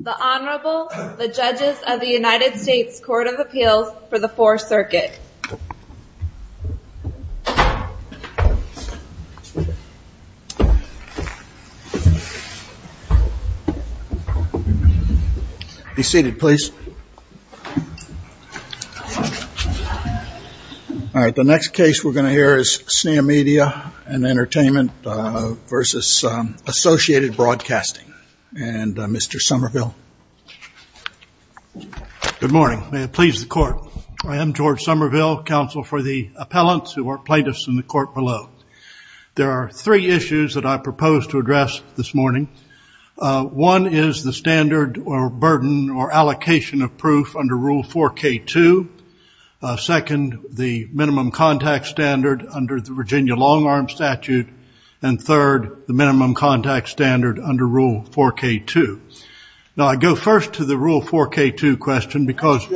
The Honorable, the Judges of the United States Court of Appeals for the 4th Circuit. Be seated please. All right, the next case we're going to hear is Sneha Media & Entertainment v. Associated Broadcasting and Mr. Somerville. Good morning, may it please the Court. I am George Somerville, counsel for the appellants who are plaintiffs in the court below. There are three issues that I propose to address this morning. One is the standard or burden or allocation of proof under Rule 4K2. Second, the minimum contact standard under the Virginia Long Arm Statute. And third, the minimum contact standard under Rule 4K2. Now I go first to the Rule 4K2 question because...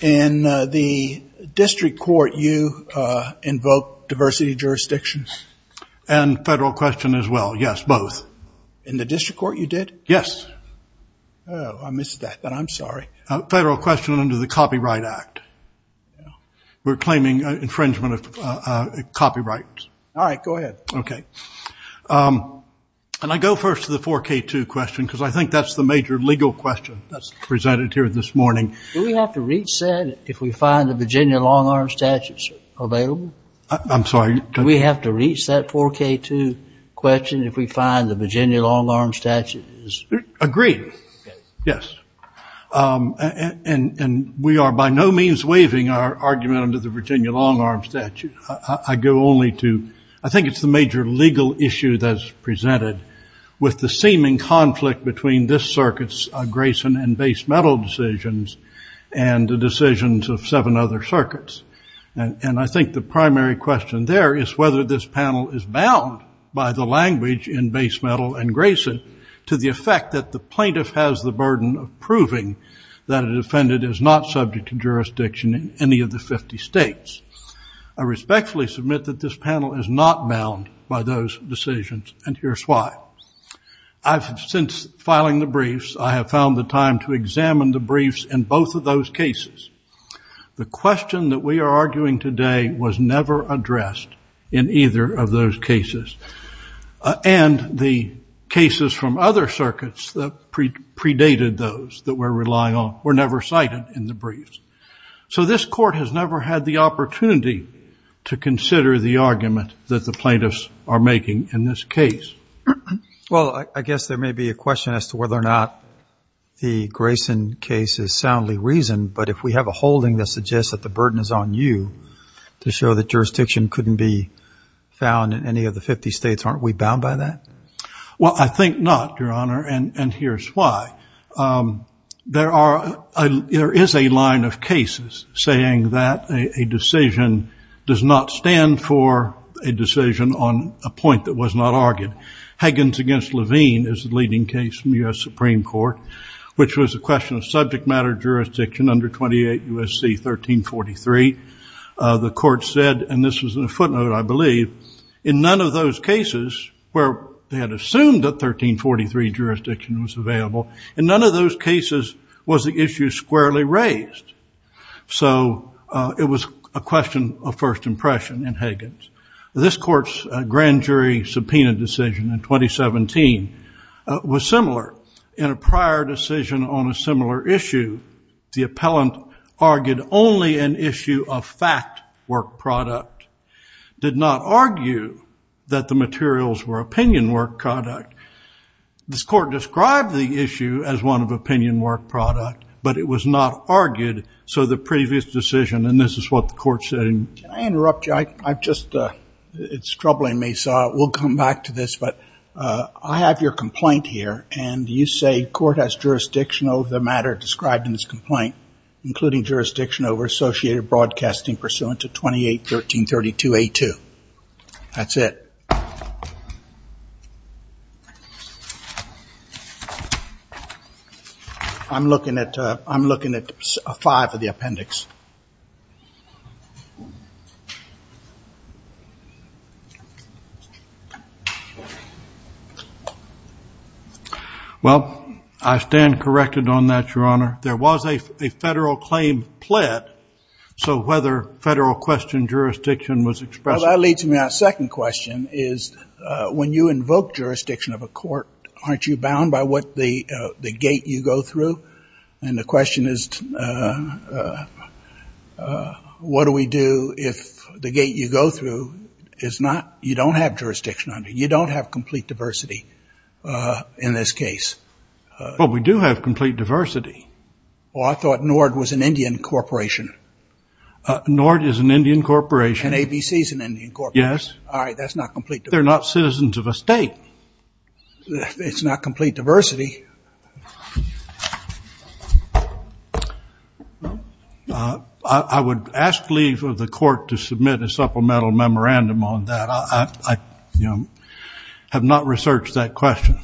In the district court you invoked diversity jurisdictions? And federal question as well, yes, both. In the district court you did? Yes. Oh, I missed that, but I'm sorry. Federal question under the Copyright Act. We're claiming infringement of copyrights. All right, go ahead. Okay. And I go first to the 4K2 question because I think that's the major legal question that's presented here this morning. Do we have to reach that if we find the Virginia Long Arm Statute available? I'm sorry? Do we have to reach that 4K2 question if we find the Virginia Long Arm Statute is... Agreed, yes. And we are by no means waiving our argument under the Virginia Long Arm Statute. I go only to, I think it's the major legal issue that's presented with the seeming conflict between this circuit's Grayson and base metal decisions and the decisions of seven other circuits. And I think the primary question there is whether this panel is bound by the language in base metal and Grayson to the effect that the plaintiff has the burden of proving that a defendant is not subject to jurisdiction in any of the 50 states. I respectfully submit that this panel is not bound by those decisions, and here's why. Since filing the briefs, I have found the time to examine the briefs in both of those cases. The question that we are arguing today was never addressed in either of those cases. And the cases from other circuits that predated those that we're relying on were never cited in the briefs. So this court has never had the opportunity to consider the argument that the plaintiffs are making in this case. Well, I guess there may be a question as to whether or not the Grayson case is soundly reasoned, but if we have a holding that suggests that the burden is on you to show that jurisdiction couldn't be found in any of the 50 states, aren't we bound by that? Well, I think not, Your Honor, and here's why. There is a line of cases saying that a decision does not stand for a decision on a point that was not argued. Higgins v. Levine is the leading case from U.S. Supreme Court, which was a question of subject matter jurisdiction under 28 U.S.C. 1343. The court said, and this was in a footnote, I believe, in none of those cases where they had assumed that 1343 jurisdiction was available, in none of those cases was the issue squarely raised. So it was a question of first impression in Higgins. This court's grand jury subpoena decision in 2017 was similar. In a prior decision on a similar issue, the appellant argued only an issue of fact work product, did not argue that the materials were opinion work product. This court described the issue as one of opinion work product, but it was not argued so the previous decision, and this is what the court said. Can I interrupt you? I've just, it's troubling me, so we'll come back to this, but I have your complaint here, and you say court has jurisdiction over the matter described in this complaint, including jurisdiction over associated broadcasting pursuant to 28 U.S.C. 1332A2. That's it. I'm looking at five of the appendix. Well, I stand corrected on that, Your Honor. There was a federal claim pled, so whether federal question jurisdiction was expressed. Well, that leads me to my second question, is when you invoke jurisdiction of a court, aren't you bound by what the gate you go through? And the question is what do we do if the gate you go through is not, you don't have jurisdiction under, you don't have complete diversity in this case. Well, we do have complete diversity. Well, I thought NORD was an Indian corporation. NORD is an Indian corporation. And ABC is an Indian corporation. Yes. All right, that's not complete diversity. They're not citizens of a state. It's not complete diversity. I would ask leave of the court to submit a supplemental memorandum on that. I have not researched that question.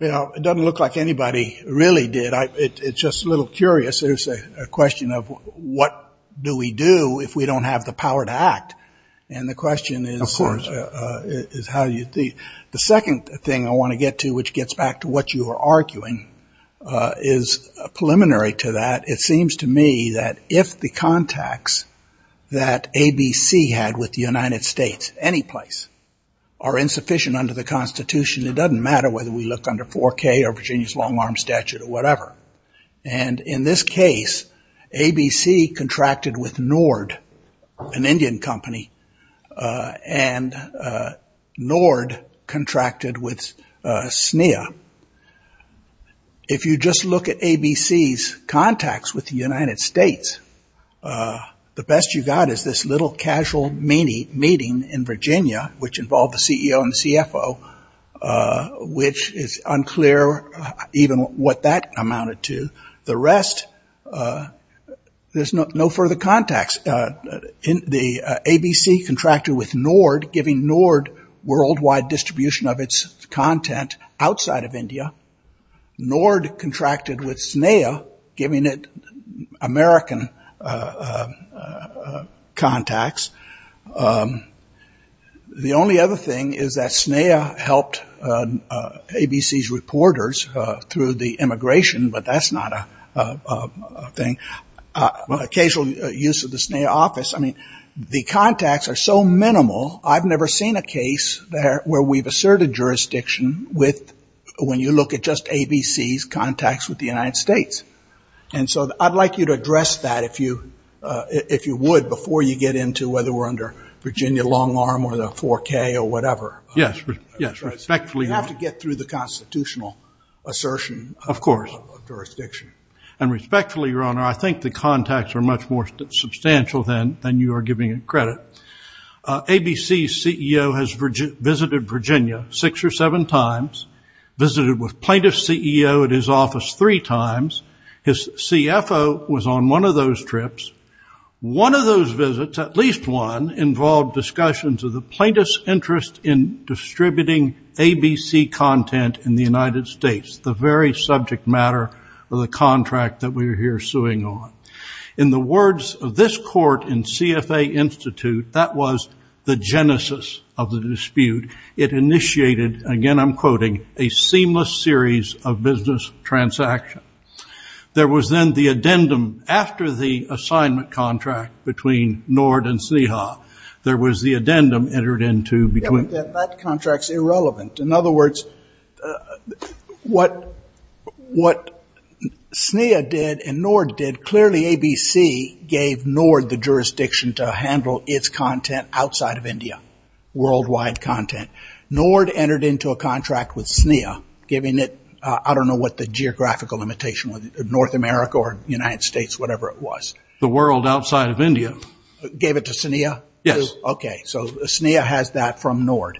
Well, it doesn't look like anybody really did. It's just a little curious. There's a question of what do we do if we don't have the power to act. And the question is how you think. The second thing I want to get to, which gets back to what you were arguing, is preliminary to that. It seems to me that if the contacts that ABC had with the United States anyplace are insufficient under the Constitution, it doesn't matter whether we look under 4K or Virginia's long-arm statute or whatever. And in this case, ABC contracted with NORD, an Indian company, and NORD contracted with SNEA. If you just look at ABC's contacts with the United States, the best you got is this little casual meeting in Virginia, which involved the CEO and the CFO, which is unclear even what that amounted to. The rest, there's no further contacts. The ABC contracted with NORD, giving NORD worldwide distribution of its content outside of India. NORD contracted with SNEA, giving it American contacts. The only other thing is that SNEA helped ABC's reporters through the immigration, but that's not a thing. Occasional use of the SNEA office, I mean, the contacts are so minimal, I've never seen a case where we've asserted jurisdiction when you look at just ABC's contacts with the United States. And so I'd like you to address that, if you would, before you get into whether we're under Virginia long-arm or the 4K or whatever. Yes, respectfully, Your Honor. You have to get through the constitutional assertion of jurisdiction. Of course. And respectfully, Your Honor, I think the contacts are much more substantial than you are giving it credit. ABC's CEO has visited Virginia six or seven times, visited with plaintiff's CEO at his office three times. His CFO was on one of those trips. One of those visits, at least one, involved discussions of the plaintiff's interest in distributing ABC content in the United States, the very subject matter of the contract that we are here suing on. In the words of this court in CFA Institute, that was the genesis of the dispute. It initiated, again I'm quoting, a seamless series of business transactions. There was then the addendum after the assignment contract between Nord and Sneha. There was the addendum entered into between. I think that that contract's irrelevant. In other words, what Sneha did and Nord did, clearly ABC gave Nord the jurisdiction to handle its content outside of India, worldwide content. Nord entered into a contract with Sneha, giving it, I don't know what the geographical limitation was, North America or United States, whatever it was. The world outside of India. Gave it to Sneha? Yes. Okay, so Sneha has that from Nord.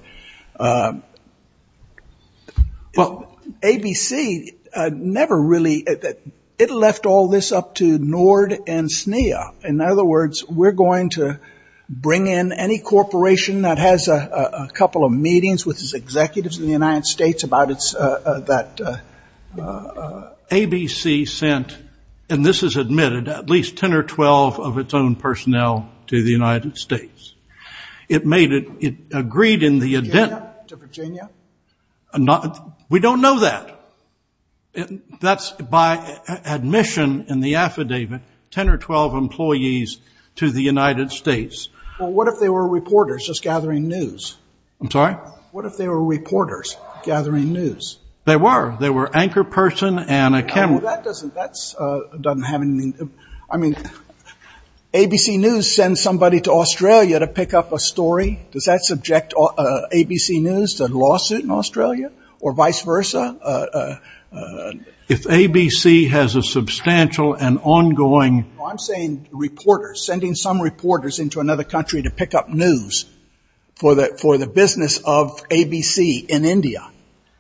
ABC never really, it left all this up to Nord and Sneha. In other words, we're going to bring in any corporation that has a couple of meetings with its executives in the United States about that. ABC sent, and this is admitted, at least 10 or 12 of its own personnel to the United States. It made it, it agreed in the addendum. To Virginia? We don't know that. That's by admission in the affidavit, 10 or 12 employees to the United States. Well, what if they were reporters just gathering news? I'm sorry? What if they were reporters gathering news? They were. They were anchor person and a camera. Well, that doesn't have any, I mean, ABC News sends somebody to Australia to pick up a story. Does that subject ABC News to a lawsuit in Australia or vice versa? If ABC has a substantial and ongoing. I'm saying reporters, sending some reporters into another country to pick up news for the business of ABC in India.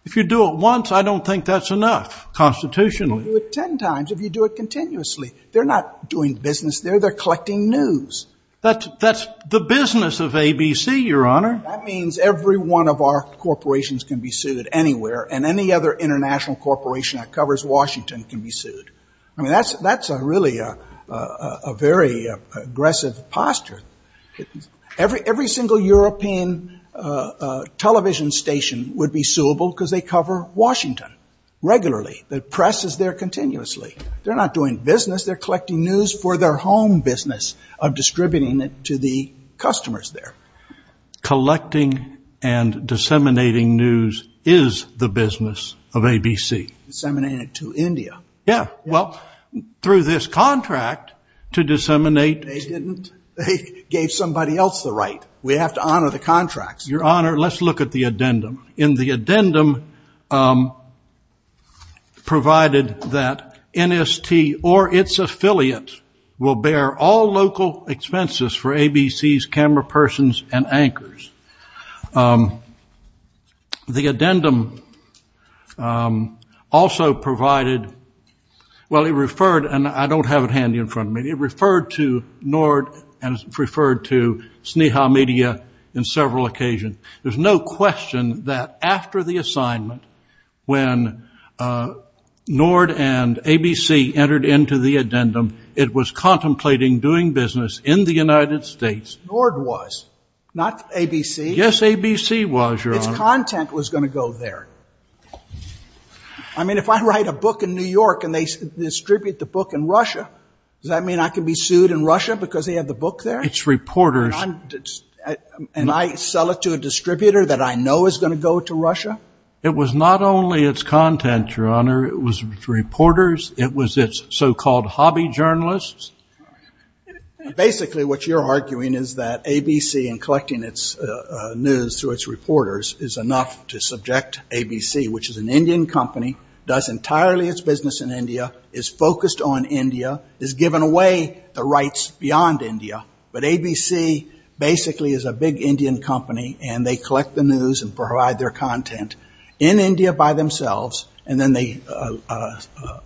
If you do it once, I don't think that's enough constitutionally. You can't do it 10 times if you do it continuously. They're not doing business there. They're collecting news. That's the business of ABC, Your Honor. That means every one of our corporations can be sued anywhere, and any other international corporation that covers Washington can be sued. I mean, that's really a very aggressive posture. Every single European television station would be suable because they cover Washington regularly. The press is there continuously. They're not doing business. They're collecting news for their home business of distributing it to the customers there. Collecting and disseminating news is the business of ABC. Disseminating it to India. Yeah. Well, through this contract to disseminate. They didn't. They gave somebody else the right. We have to honor the contracts. Your Honor, let's look at the addendum. In the addendum, provided that NST or its affiliate will bear all local expenses for ABC's camera persons and anchors, the addendum also provided, well, it referred, and I don't have it handy in front of me. It referred to NORD and referred to Sneha Media in several occasions. There's no question that after the assignment, when NORD and ABC entered into the addendum, it was contemplating doing business in the United States. NORD was, not ABC. Yes, ABC was, Your Honor. Its content was going to go there. I mean, if I write a book in New York and they distribute the book in Russia, does that mean I can be sued in Russia because they have the book there? It's reporters. And I sell it to a distributor that I know is going to go to Russia? It was not only its content, Your Honor. It was reporters. It was its so-called hobby journalists. Basically, what you're arguing is that ABC in collecting its news through its reporters is enough to subject ABC, which is an Indian company, does entirely its business in India, is focused on India, is giving away the rights beyond India, but ABC basically is a big Indian company and they collect the news and provide their content in India by themselves and then they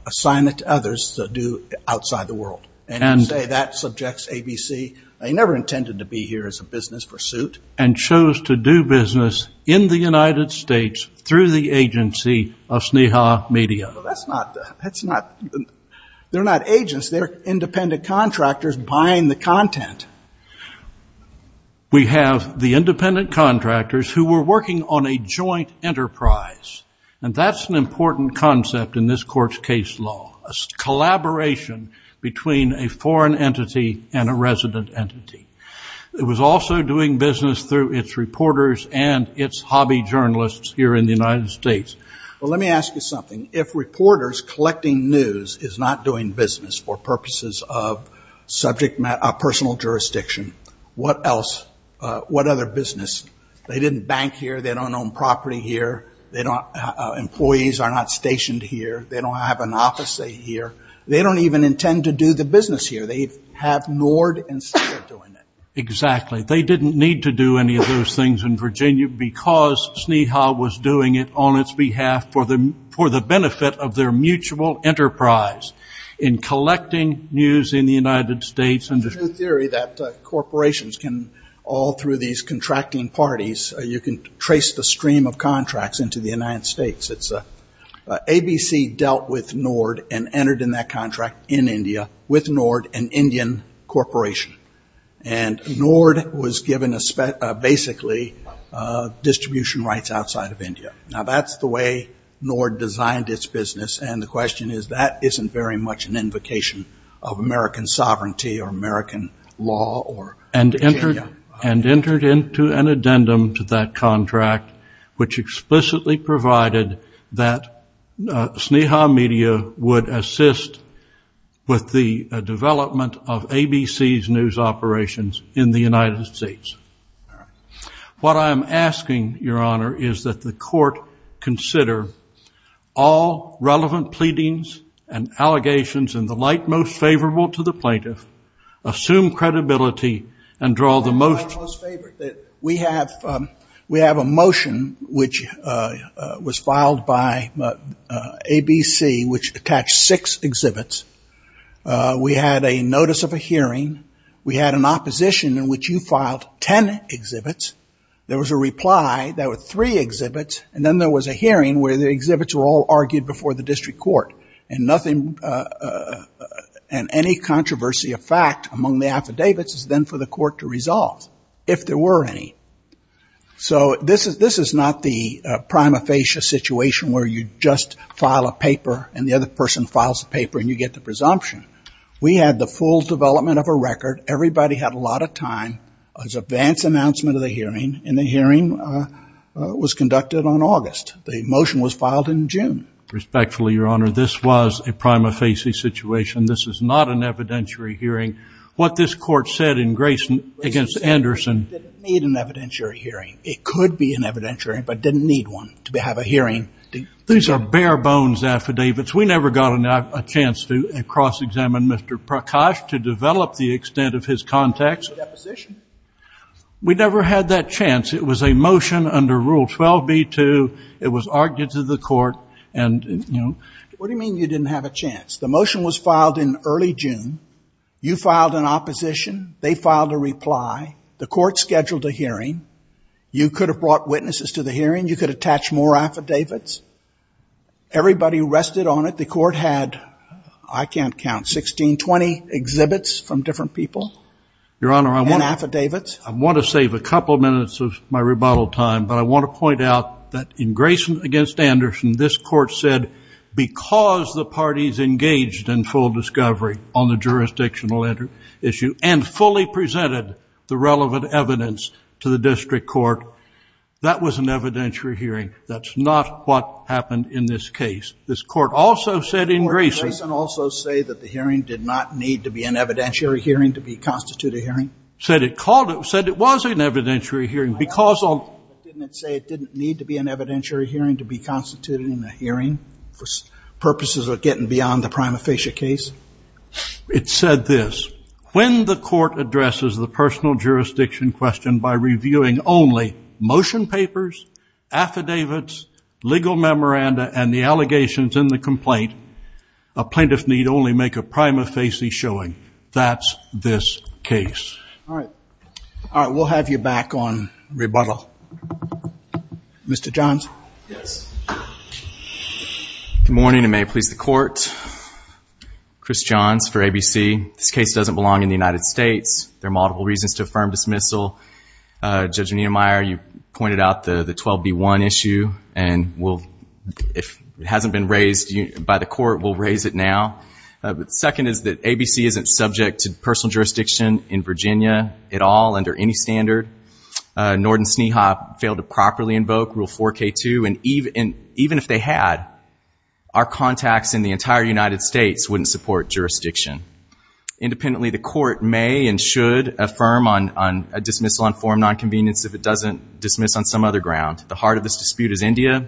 assign it to others to do outside the world. And you say that subjects ABC. They never intended to be here as a business pursuit. And chose to do business in the United States through the agency of Sneha Media. Well, that's not the, that's not, they're not agents. They're independent contractors buying the content. We have the independent contractors who were working on a joint enterprise. And that's an important concept in this court's case law, a collaboration between a foreign entity and a resident entity. It was also doing business through its reporters and its hobby journalists here in the United States. Well, let me ask you something. If reporters collecting news is not doing business for purposes of subject matter, personal jurisdiction, what else, what other business? They didn't bank here. They don't own property here. They don't, employees are not stationed here. They don't have an office here. They don't even intend to do the business here. They have Nord and Sneha doing it. Exactly. They didn't need to do any of those things in Virginia because Sneha was doing it on its behalf for the, for the benefit of their mutual enterprise in collecting news in the United States. There's a theory that corporations can, all through these contracting parties, you can trace the stream of contracts into the United States. ABC dealt with Nord and entered in that contract in India with Nord, an Indian corporation. And Nord was given basically distribution rights outside of India. Now, that's the way Nord designed its business, and the question is that isn't very much an invocation of American sovereignty or American law. And entered into an addendum to that contract, which explicitly provided that Sneha Media would assist with the development of ABC's news operations in the United States. What I'm asking, Your Honor, is that the court consider all relevant pleadings and allegations in the light most favorable to the plaintiff, assume credibility, and draw the most. We have a motion which was filed by ABC, which attached six exhibits. We had a notice of a hearing. We had an opposition in which you filed ten exhibits. There was a reply. There were three exhibits. And then there was a hearing where the exhibits were all argued before the district court, and any controversy of fact among the affidavits is then for the court to resolve, if there were any. So this is not the prima facie situation where you just file a paper, and the other person files a paper, and you get the presumption. We had the full development of a record. Everybody had a lot of time. There was an advance announcement of the hearing, and the hearing was conducted on August. The motion was filed in June. Respectfully, Your Honor, this was a prima facie situation. This is not an evidentiary hearing. What this court said in Grayson against Anderson. Grayson said it didn't need an evidentiary hearing. It could be an evidentiary, but didn't need one to have a hearing. These are bare bones affidavits. We never got a chance to cross-examine Mr. Prakash to develop the extent of his context. Deposition. We never had that chance. It was a motion under Rule 12b-2. It was argued to the court, and, you know. What do you mean you didn't have a chance? The motion was filed in early June. You filed an opposition. They filed a reply. The court scheduled a hearing. You could have brought witnesses to the hearing. You could attach more affidavits. Everybody rested on it. The court had, I can't count, 16, 20 exhibits from different people and affidavits. Your Honor, I want to save a couple minutes of my rebuttal time, but I want to point out that in Grayson against Anderson, this court said because the parties engaged in full discovery on the jurisdictional issue and fully presented the relevant evidence to the district court, that was an evidentiary hearing. That's not what happened in this case. This court also said in Grayson. Didn't Grayson also say that the hearing did not need to be an evidentiary hearing to constitute a hearing? It said it was an evidentiary hearing. Didn't it say it didn't need to be an evidentiary hearing to be constituted in a hearing for purposes of getting beyond the prima facie case? It said this, when the court addresses the personal jurisdiction question by reviewing only motion papers, affidavits, legal memoranda, and the allegations in the complaint, a plaintiff need only make a prima facie showing. That's this case. All right. All right. We'll have you back on rebuttal. Mr. Johns? Yes. Good morning and may it please the court. Chris Johns for ABC. This case doesn't belong in the United States. There are multiple reasons to affirm dismissal. Judge Niemeyer, you pointed out the 12B1 issue, and if it hasn't been raised by the court, we'll raise it now. Second is that ABC isn't subject to personal jurisdiction in Virginia at all under any standard. Norton Sneha failed to properly invoke Rule 4K2, and even if they had, our contacts in the entire United States wouldn't support jurisdiction. Independently, the court may and should affirm a dismissal on form nonconvenience if it doesn't dismiss on some other ground. The heart of this dispute is India.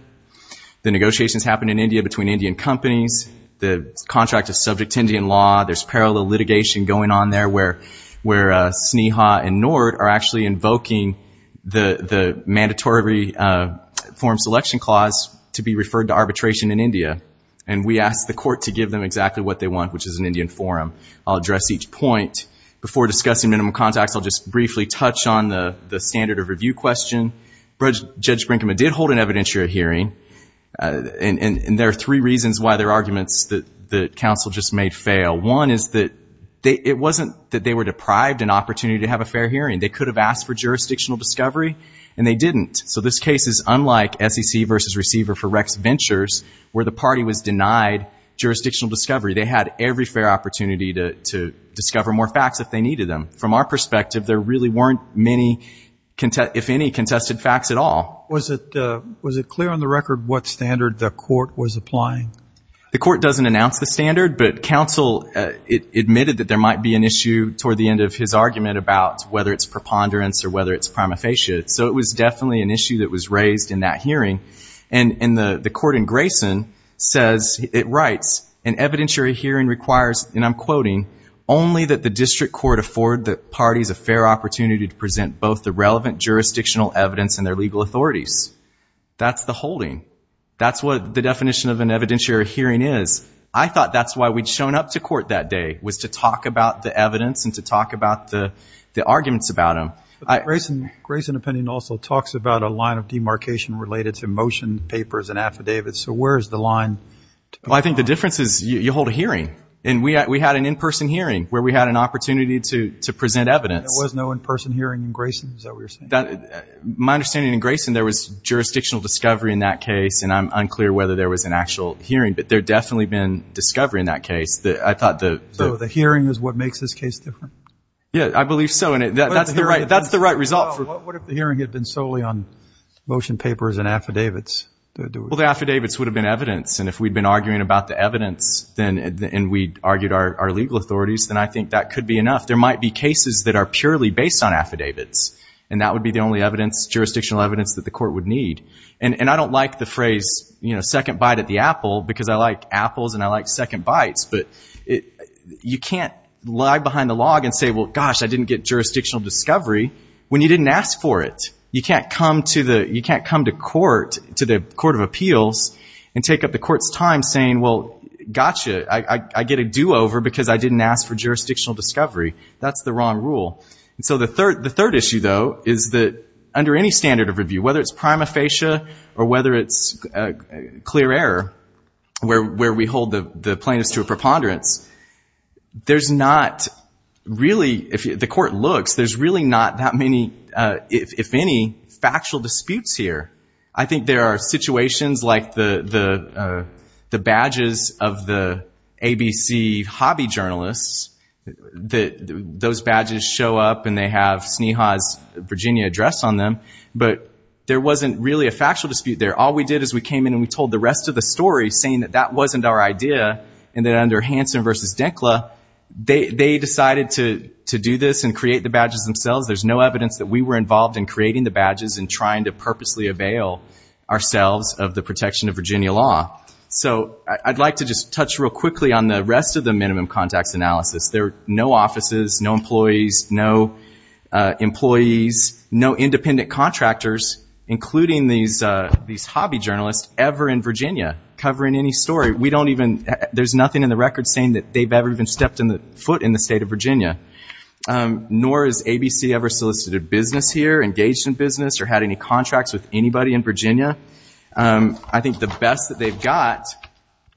The negotiations happen in India between Indian companies. The contract is subject to Indian law. There's parallel litigation going on there where Sneha and Nord are actually invoking the mandatory form selection clause to be referred to arbitration in India, and we ask the court to give them exactly what they want, which is an Indian forum. I'll address each point. Before discussing minimum contacts, I'll just briefly touch on the standard of review question. Judge Brinkman did hold an evidentiary hearing, and there are three reasons why there are arguments that counsel just made fail. One is that it wasn't that they were deprived an opportunity to have a fair hearing. They could have asked for jurisdictional discovery, and they didn't. So this case is unlike SEC versus Receiver for Rex Ventures where the party was denied jurisdictional discovery. They had every fair opportunity to discover more facts if they needed them. From our perspective, there really weren't many, if any, contested facts at all. Was it clear on the record what standard the court was applying? The court doesn't announce the standard, but counsel admitted that there might be an issue toward the end of his argument about whether it's preponderance or whether it's prima facie, so it was definitely an issue that was raised in that hearing. And the court in Grayson says, it writes, an evidentiary hearing requires, and I'm quoting, only that the district court afford the parties a fair opportunity to present both the relevant jurisdictional evidence and their legal authorities. That's the holding. That's what the definition of an evidentiary hearing is. I thought that's why we'd shown up to court that day was to talk about the evidence and to talk about the arguments about them. Grayson opinion also talks about a line of demarcation related to motion papers and affidavits. So where is the line? Well, I think the difference is you hold a hearing, and we had an in-person hearing where we had an opportunity to present evidence. There was no in-person hearing in Grayson? Is that what you're saying? My understanding in Grayson, there was jurisdictional discovery in that case, and I'm unclear whether there was an actual hearing, but there definitely had been discovery in that case. So the hearing is what makes this case different? Yeah, I believe so, and that's the right result. What if the hearing had been solely on motion papers and affidavits? Well, the affidavits would have been evidence, and if we'd been arguing about the evidence and we'd argued our legal authorities, then I think that could be enough. There might be cases that are purely based on affidavits, and that would be the only evidence, jurisdictional evidence, that the court would need. And I don't like the phrase, you know, second bite at the apple, because I like apples and I like second bites, but you can't lie behind the log and say, well, gosh, I didn't get jurisdictional discovery, when you didn't ask for it. You can't come to court, to the Court of Appeals, and take up the court's time saying, well, gotcha, I get a do-over because I didn't ask for jurisdictional discovery. That's the wrong rule. And so the third issue, though, is that under any standard of review, whether it's prima facie or whether it's clear error, where we hold the plaintiffs to a preponderance, there's not really, if the court looks, there's really not that many, if any, factual disputes here. I think there are situations like the badges of the ABC hobby journalists, that those badges show up and they have Sneha's Virginia address on them, but there wasn't really a factual dispute there. All we did is we came in and we told the rest of the story, saying that that wasn't our idea, and that under Hansen v. Denkla, they decided to do this and create the badges themselves. There's no evidence that we were involved in creating the badges and trying to purposely avail ourselves of the protection of Virginia law. So I'd like to just touch real quickly on the rest of the minimum contacts analysis. There are no offices, no employees, no employees, no independent contractors, including these hobby journalists, ever in Virginia covering any story. There's nothing in the record saying that they've ever even stepped foot in the state of Virginia, nor has ABC ever solicited business here, engaged in business, or had any contracts with anybody in Virginia. I think the best that they've got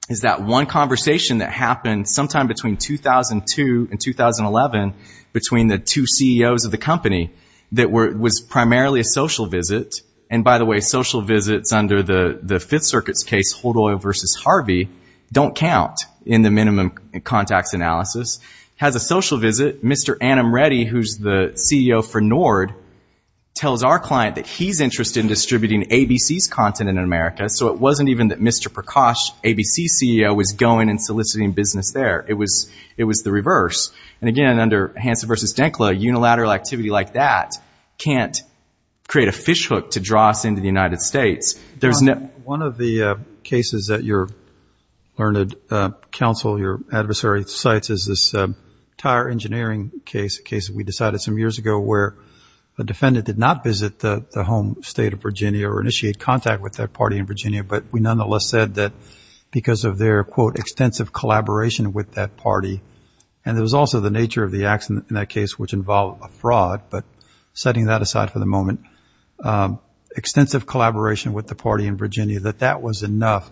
is that one conversation that happened sometime between 2002 and 2011 between the two CEOs of the company that was primarily a social visit. And by the way, social visits under the Fifth Circuit's case, Hold Oil v. Harvey, don't count in the minimum contacts analysis. It has a social visit. Mr. Annum Reddy, who's the CEO for Nord, tells our client that he's interested in distributing ABC's content in America, so it wasn't even that Mr. Prakash, ABC's CEO, was going and soliciting business there. It was the reverse. And again, under Hansen v. Denkla, unilateral activity like that can't create a fishhook to draw us into the United States. One of the cases that your learned counsel, your adversary, cites is this tire engineering case we decided some years ago where a defendant did not visit the home state of Virginia or initiate contact with that party in Virginia, but we nonetheless said that because of their, quote, extensive collaboration with that party, and it was also the nature of the accident in that case which involved a fraud, but setting that aside for the moment, extensive collaboration with the party in Virginia, that that was enough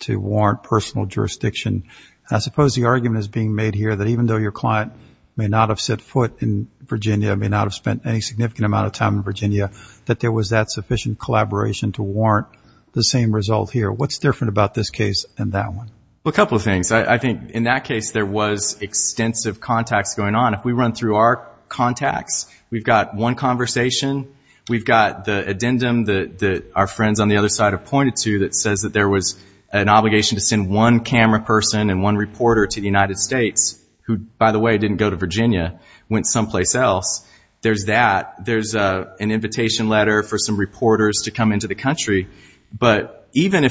to warrant personal jurisdiction. I suppose the argument is being made here that even though your client may not have set foot in Virginia, may not have spent any significant amount of time in Virginia, that there was that sufficient collaboration to warrant the same result here. What's different about this case and that one? Well, a couple of things. I think in that case there was extensive contacts going on. If we run through our contacts, we've got one conversation. We've got the addendum that our friends on the other side have pointed to that says that there was an obligation to send one camera person and one reporter to the United States who, by the way, didn't go to Virginia, went someplace else. There's that. There's an invitation letter for some reporters to come into the country, but even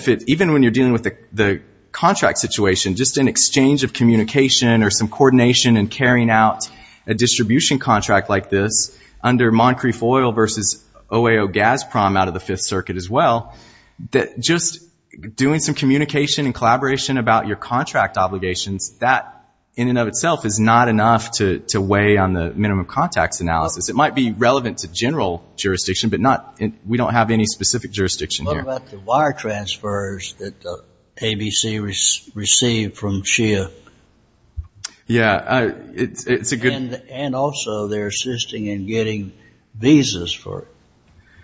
when you're dealing with the contract situation, just an exchange of communication or some coordination in carrying out a distribution contract like this under Moncrief Oil versus OAO Gazprom out of the Fifth Circuit as well, just doing some communication and collaboration about your contract obligations, that in and of itself is not enough to weigh on the minimum contacts analysis. It might be relevant to general jurisdiction, but we don't have any specific jurisdiction here. What about the wire transfers that ABC received from SHEA? Yeah, it's a good... And also they're assisting in getting visas for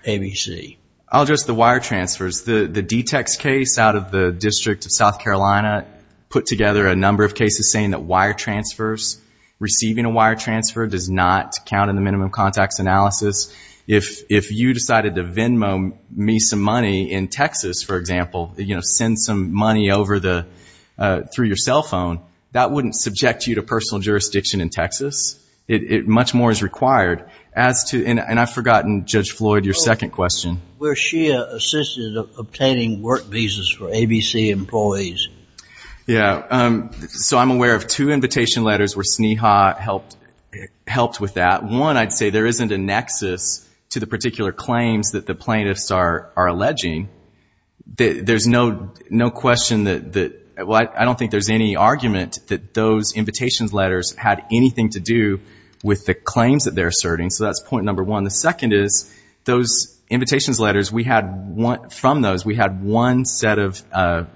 ABC. I'll address the wire transfers. The DTEX case out of the District of South Carolina put together a number of cases saying that wire transfers, receiving a wire transfer does not count in the minimum contacts analysis. If you decided to Venmo me some money in Texas, for example, send some money through your cell phone, that wouldn't subject you to personal jurisdiction in Texas. Much more is required. And I've forgotten, Judge Floyd, your second question. Where SHEA assisted obtaining work visas for ABC employees. Yeah. So I'm aware of two invitation letters where SNEHA helped with that. One, I'd say there isn't a nexus to the particular claims that the plaintiffs are alleging. There's no question that... Well, I don't think there's any argument that those invitation letters had anything to do with the claims that they're asserting. So that's point number one. The second is those invitation letters, we had one... From those, we had one set of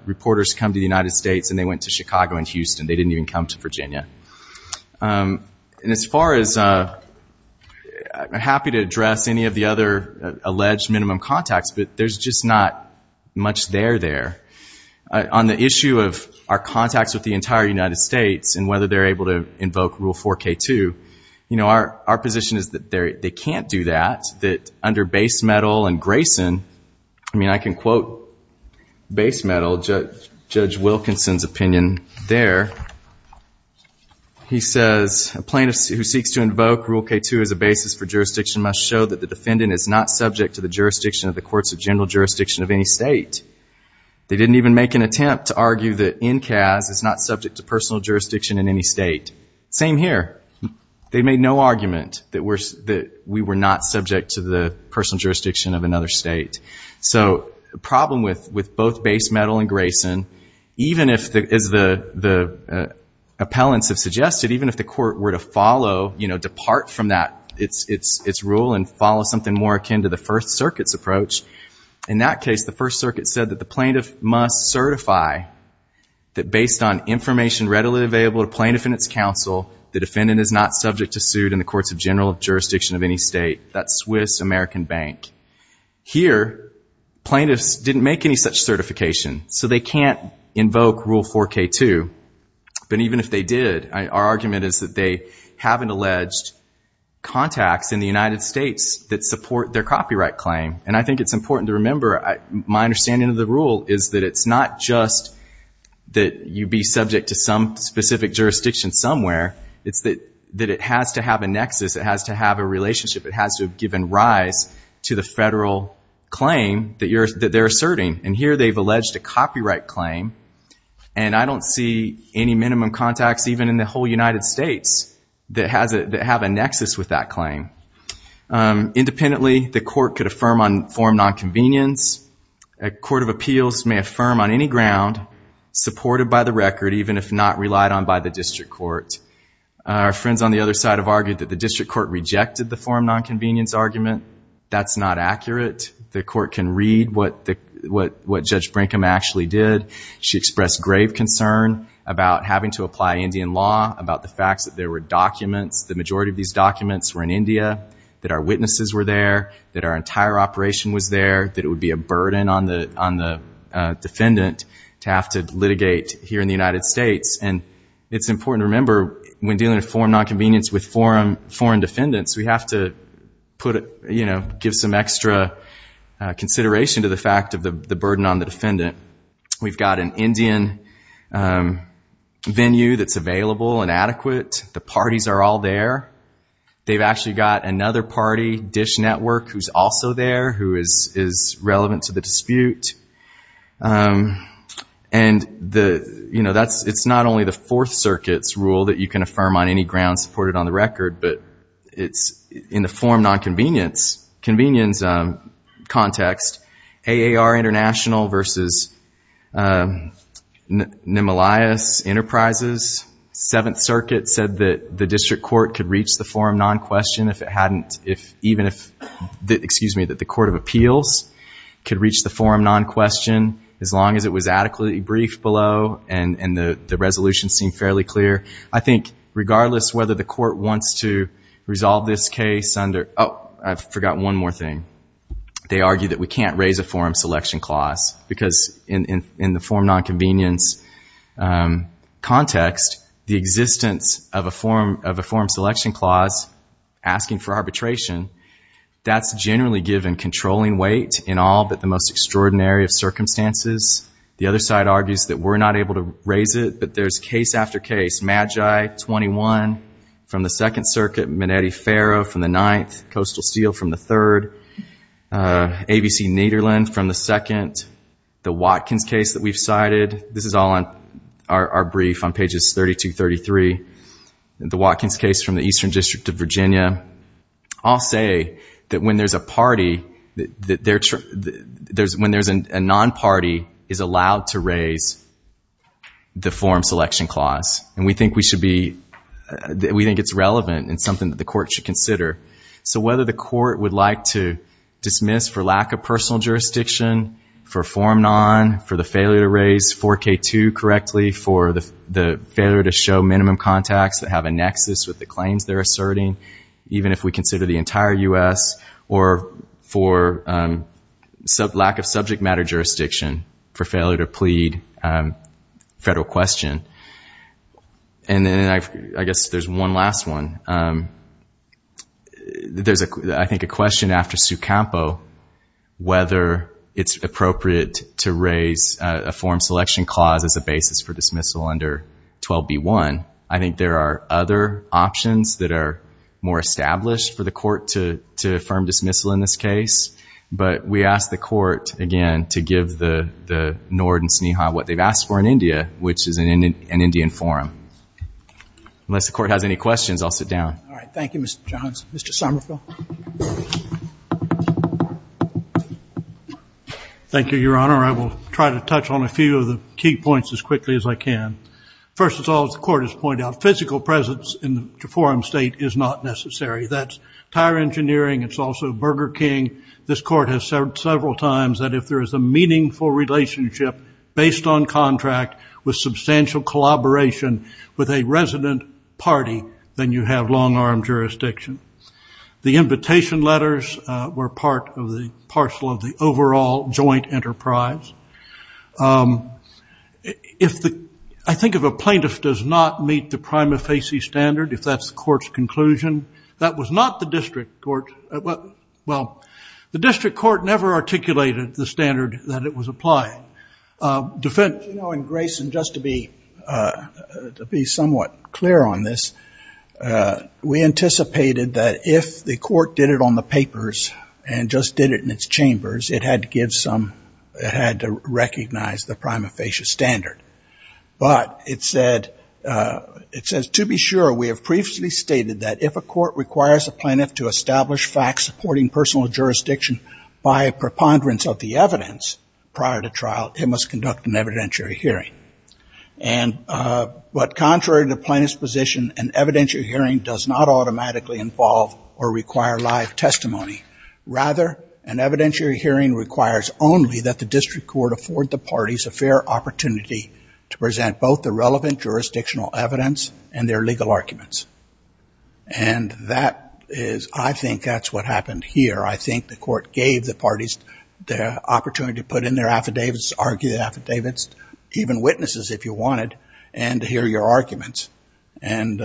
reporters come to the United States and they went to Chicago and Houston. They didn't even come to Virginia. And as far as... I'm happy to address any of the other alleged minimum contacts, but there's just not much there there. On the issue of our contacts with the entire United States and whether they're able to invoke Rule 4K2, our position is that they can't do that, that under base metal and Grayson... I mean, I can quote base metal, Judge Wilkinson's opinion there. He says, A plaintiff who seeks to invoke Rule K2 as a basis for jurisdiction must show that the defendant is not subject to the jurisdiction of the courts of general jurisdiction of any state. They didn't even make an attempt to argue that NCAS is not subject to personal jurisdiction in any state. Same here. They made no argument that we were not subject So the problem with both base metal and Grayson, even if, as the appellants have suggested, even if the court were to follow, you know, depart from its rule and follow something more akin to the First Circuit's approach, in that case, the First Circuit said that the plaintiff must certify that based on information readily available to plaintiff and its counsel, the defendant is not subject to suit in the courts of general jurisdiction of any state. That's Swiss American Bank. Here, plaintiffs didn't make any such certification, so they can't invoke Rule 4K2. But even if they did, our argument is that they have an alleged contacts in the United States that support their copyright claim. And I think it's important to remember, my understanding of the rule is that it's not just that you be subject to some specific jurisdiction somewhere, it's that it has to have a nexus, it has to have a relationship, it has to have given rise to the federal claim that they're asserting. And here, they've alleged a copyright claim, and I don't see any minimum contacts, even in the whole United States, that have a nexus with that claim. Independently, the court could affirm on form nonconvenience. A court of appeals may affirm on any ground supported by the record, even if not relied on by the district court. Our friends on the other side have argued that the district court rejected the form nonconvenience argument. That's not accurate. The court can read what Judge Brinkham actually did. She expressed grave concern about having to apply Indian law, about the fact that there were documents, the majority of these documents were in India, that our witnesses were there, that our entire operation was there, that it would be a burden on the defendant to have to litigate here in the United States. And it's important to remember, when dealing with form nonconvenience with foreign defendants, we have to give some extra consideration to the fact of the burden on the defendant. We've got an Indian venue that's available and adequate. The parties are all there. They've actually got another party, Dish Network, who's also there, who is relevant to the dispute. And it's not only the Fourth Circuit's rule that you can affirm on any ground supported on the record, but it's in the form nonconvenience context, AAR International versus Nimelius Enterprises, Seventh Circuit said that the District Court could reach the form nonquestion if it hadn't, even if, excuse me, that the Court of Appeals could reach the form nonquestion as long as it was adequately briefed below and the resolutions seemed fairly clear. I think regardless whether the court wants to resolve this case under... Oh, I forgot one more thing. They argue that we can't raise a form selection clause because in the form nonconvenience context, the existence of a form selection clause asking for arbitration, that's generally given controlling weight in all but the most extraordinary of circumstances. The other side argues that we're not able to raise it, but there's case after case. Magi 21 from the Second Circuit, Minetti-Ferro from the Ninth, Coastal Steel from the Third, ABC Nederland from the Second, the Watkins case that we've cited, this is all on our brief on pages 32, 33, the Watkins case from the Eastern District of Virginia, all say that when there's a party, when there's a non-party, is allowed to raise the form selection clause. And we think it's relevant and something that the court should consider. So whether the court would like to dismiss for lack of personal jurisdiction, for form non, for the failure to raise 4K2 correctly, for the failure to show minimum contacts that have a nexus with the claims they're asserting, even if we consider the entire U.S., or for lack of subject matter jurisdiction, for failure to plead federal question. And then I guess there's one last one. There's, I think, a question after Su Campo, whether it's appropriate to raise a form selection clause as a basis for dismissal under 12B1. that are more established for the court to affirm dismissal in this case. But we ask the court, again, to give the Nord and Sneha what they've asked for in India, which is an Indian forum. Unless the court has any questions, I'll sit down. All right. Thank you, Mr. Johns. Mr. Somerville. Thank you, Your Honor. I will try to touch on a few of the key points as quickly as I can. First of all, as the court has pointed out, physical presence in the forum state is not necessary. That's tire engineering. It's also Burger King. This court has said several times that if there is a meaningful relationship based on contract with substantial collaboration with a resident party, then you have long-arm jurisdiction. The invitation letters were part of the parcel of the overall joint enterprise. I think if a plaintiff does not meet the prima facie standard, if that's the court's conclusion, that was not the district court. Well, the district court never articulated the standard that it was applying. Defendant? You know, and, Grayson, just to be somewhat clear on this, we anticipated that if the court did it on the papers and just did it in its chambers, it had to recognize the prima facie standard. But it says, To be sure, we have previously stated that if a court requires a plaintiff to establish facts supporting personal jurisdiction by a preponderance of the evidence prior to trial, it must conduct an evidentiary hearing. But contrary to plaintiff's position, an evidentiary hearing does not automatically involve or require live testimony. Rather, an evidentiary hearing requires only that the district court afford the parties a fair opportunity to present both the relevant jurisdictional evidence and their legal arguments. And that is, I think that's what happened here. I think the court gave the parties the opportunity to put in their affidavits, argue the affidavits, even witnesses if you wanted, and to hear your arguments. And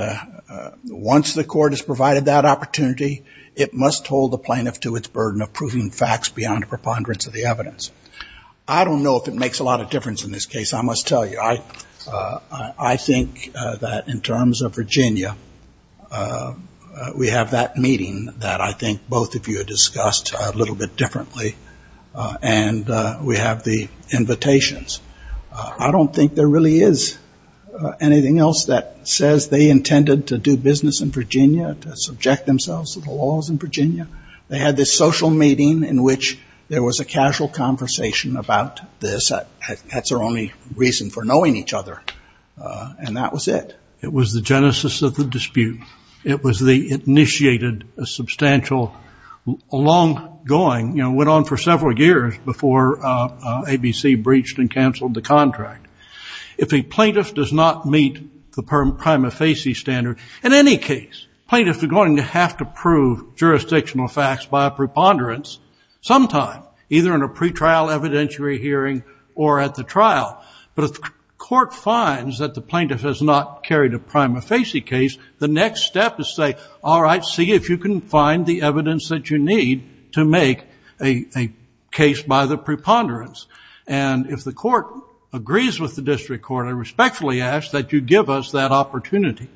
once the court has provided that opportunity, it must hold the plaintiff to its burden of proving facts beyond a preponderance of the evidence. I don't know if it makes a lot of difference in this case, I must tell you. I think that in terms of Virginia, we have that meeting that I think both of you discussed a little bit differently. And we have the invitations. I don't think there really is anything else that says they intended to do business in Virginia, to subject themselves to the laws in Virginia. They had this social meeting in which there was a casual conversation about this. That's their only reason for knowing each other. And that was it. It was the genesis of the dispute. It initiated a substantial, long-going, went on for several years before ABC breached and canceled the contract. If a plaintiff does not meet the prima facie standard, in any case, plaintiffs are going to have to prove jurisdictional facts by a preponderance sometime, either in a pretrial evidentiary hearing or at the trial. But if the court finds that the plaintiff has not carried a prima facie case, the next step is to say, all right, see if you can find the evidence that you need to make a case by the preponderance. And if the court agrees with the district court, I respectfully ask that you give us that opportunity.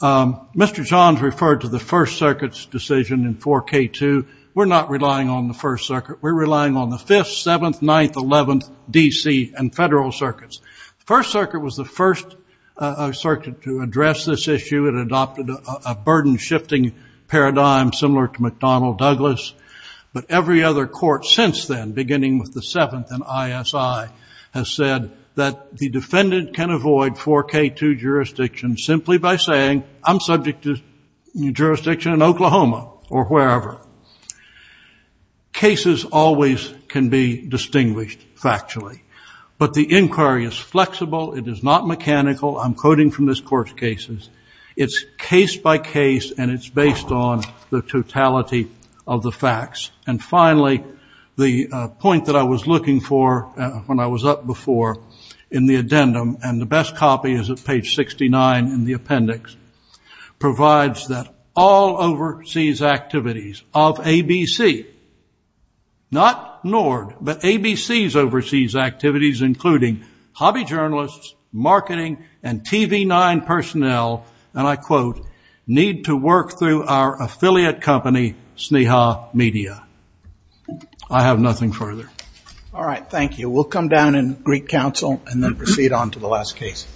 Mr. Johns referred to the First Circuit's decision in 4K2. We're not relying on the First Circuit. We're relying on the 5th, 7th, 9th, 11th, DC, and federal circuits. The First Circuit was the first circuit to address this issue. It adopted a burden-shifting paradigm similar to McDonnell-Douglas. But every other court since then, beginning with the 7th and ISI, has said that the defendant can avoid 4K2 jurisdiction simply by saying, I'm subject to jurisdiction in Oklahoma or wherever. Cases always can be distinguished factually. But the inquiry is flexible. It is not mechanical. I'm quoting from this court's cases. It's case by case. And it's based on the totality of the facts. And finally, the point that I was looking for when I was up before in the addendum, and the best copy is at page 69 in the appendix, provides that all overseas activities of ABC, not NORD, but ABC's overseas activities, including hobby journalists, marketing, and TV9 personnel, and I quote, need to work through our affiliate company, Sneha Media. I have nothing further. All right. Thank you. We'll come down in Greek Council and then proceed on to the last case.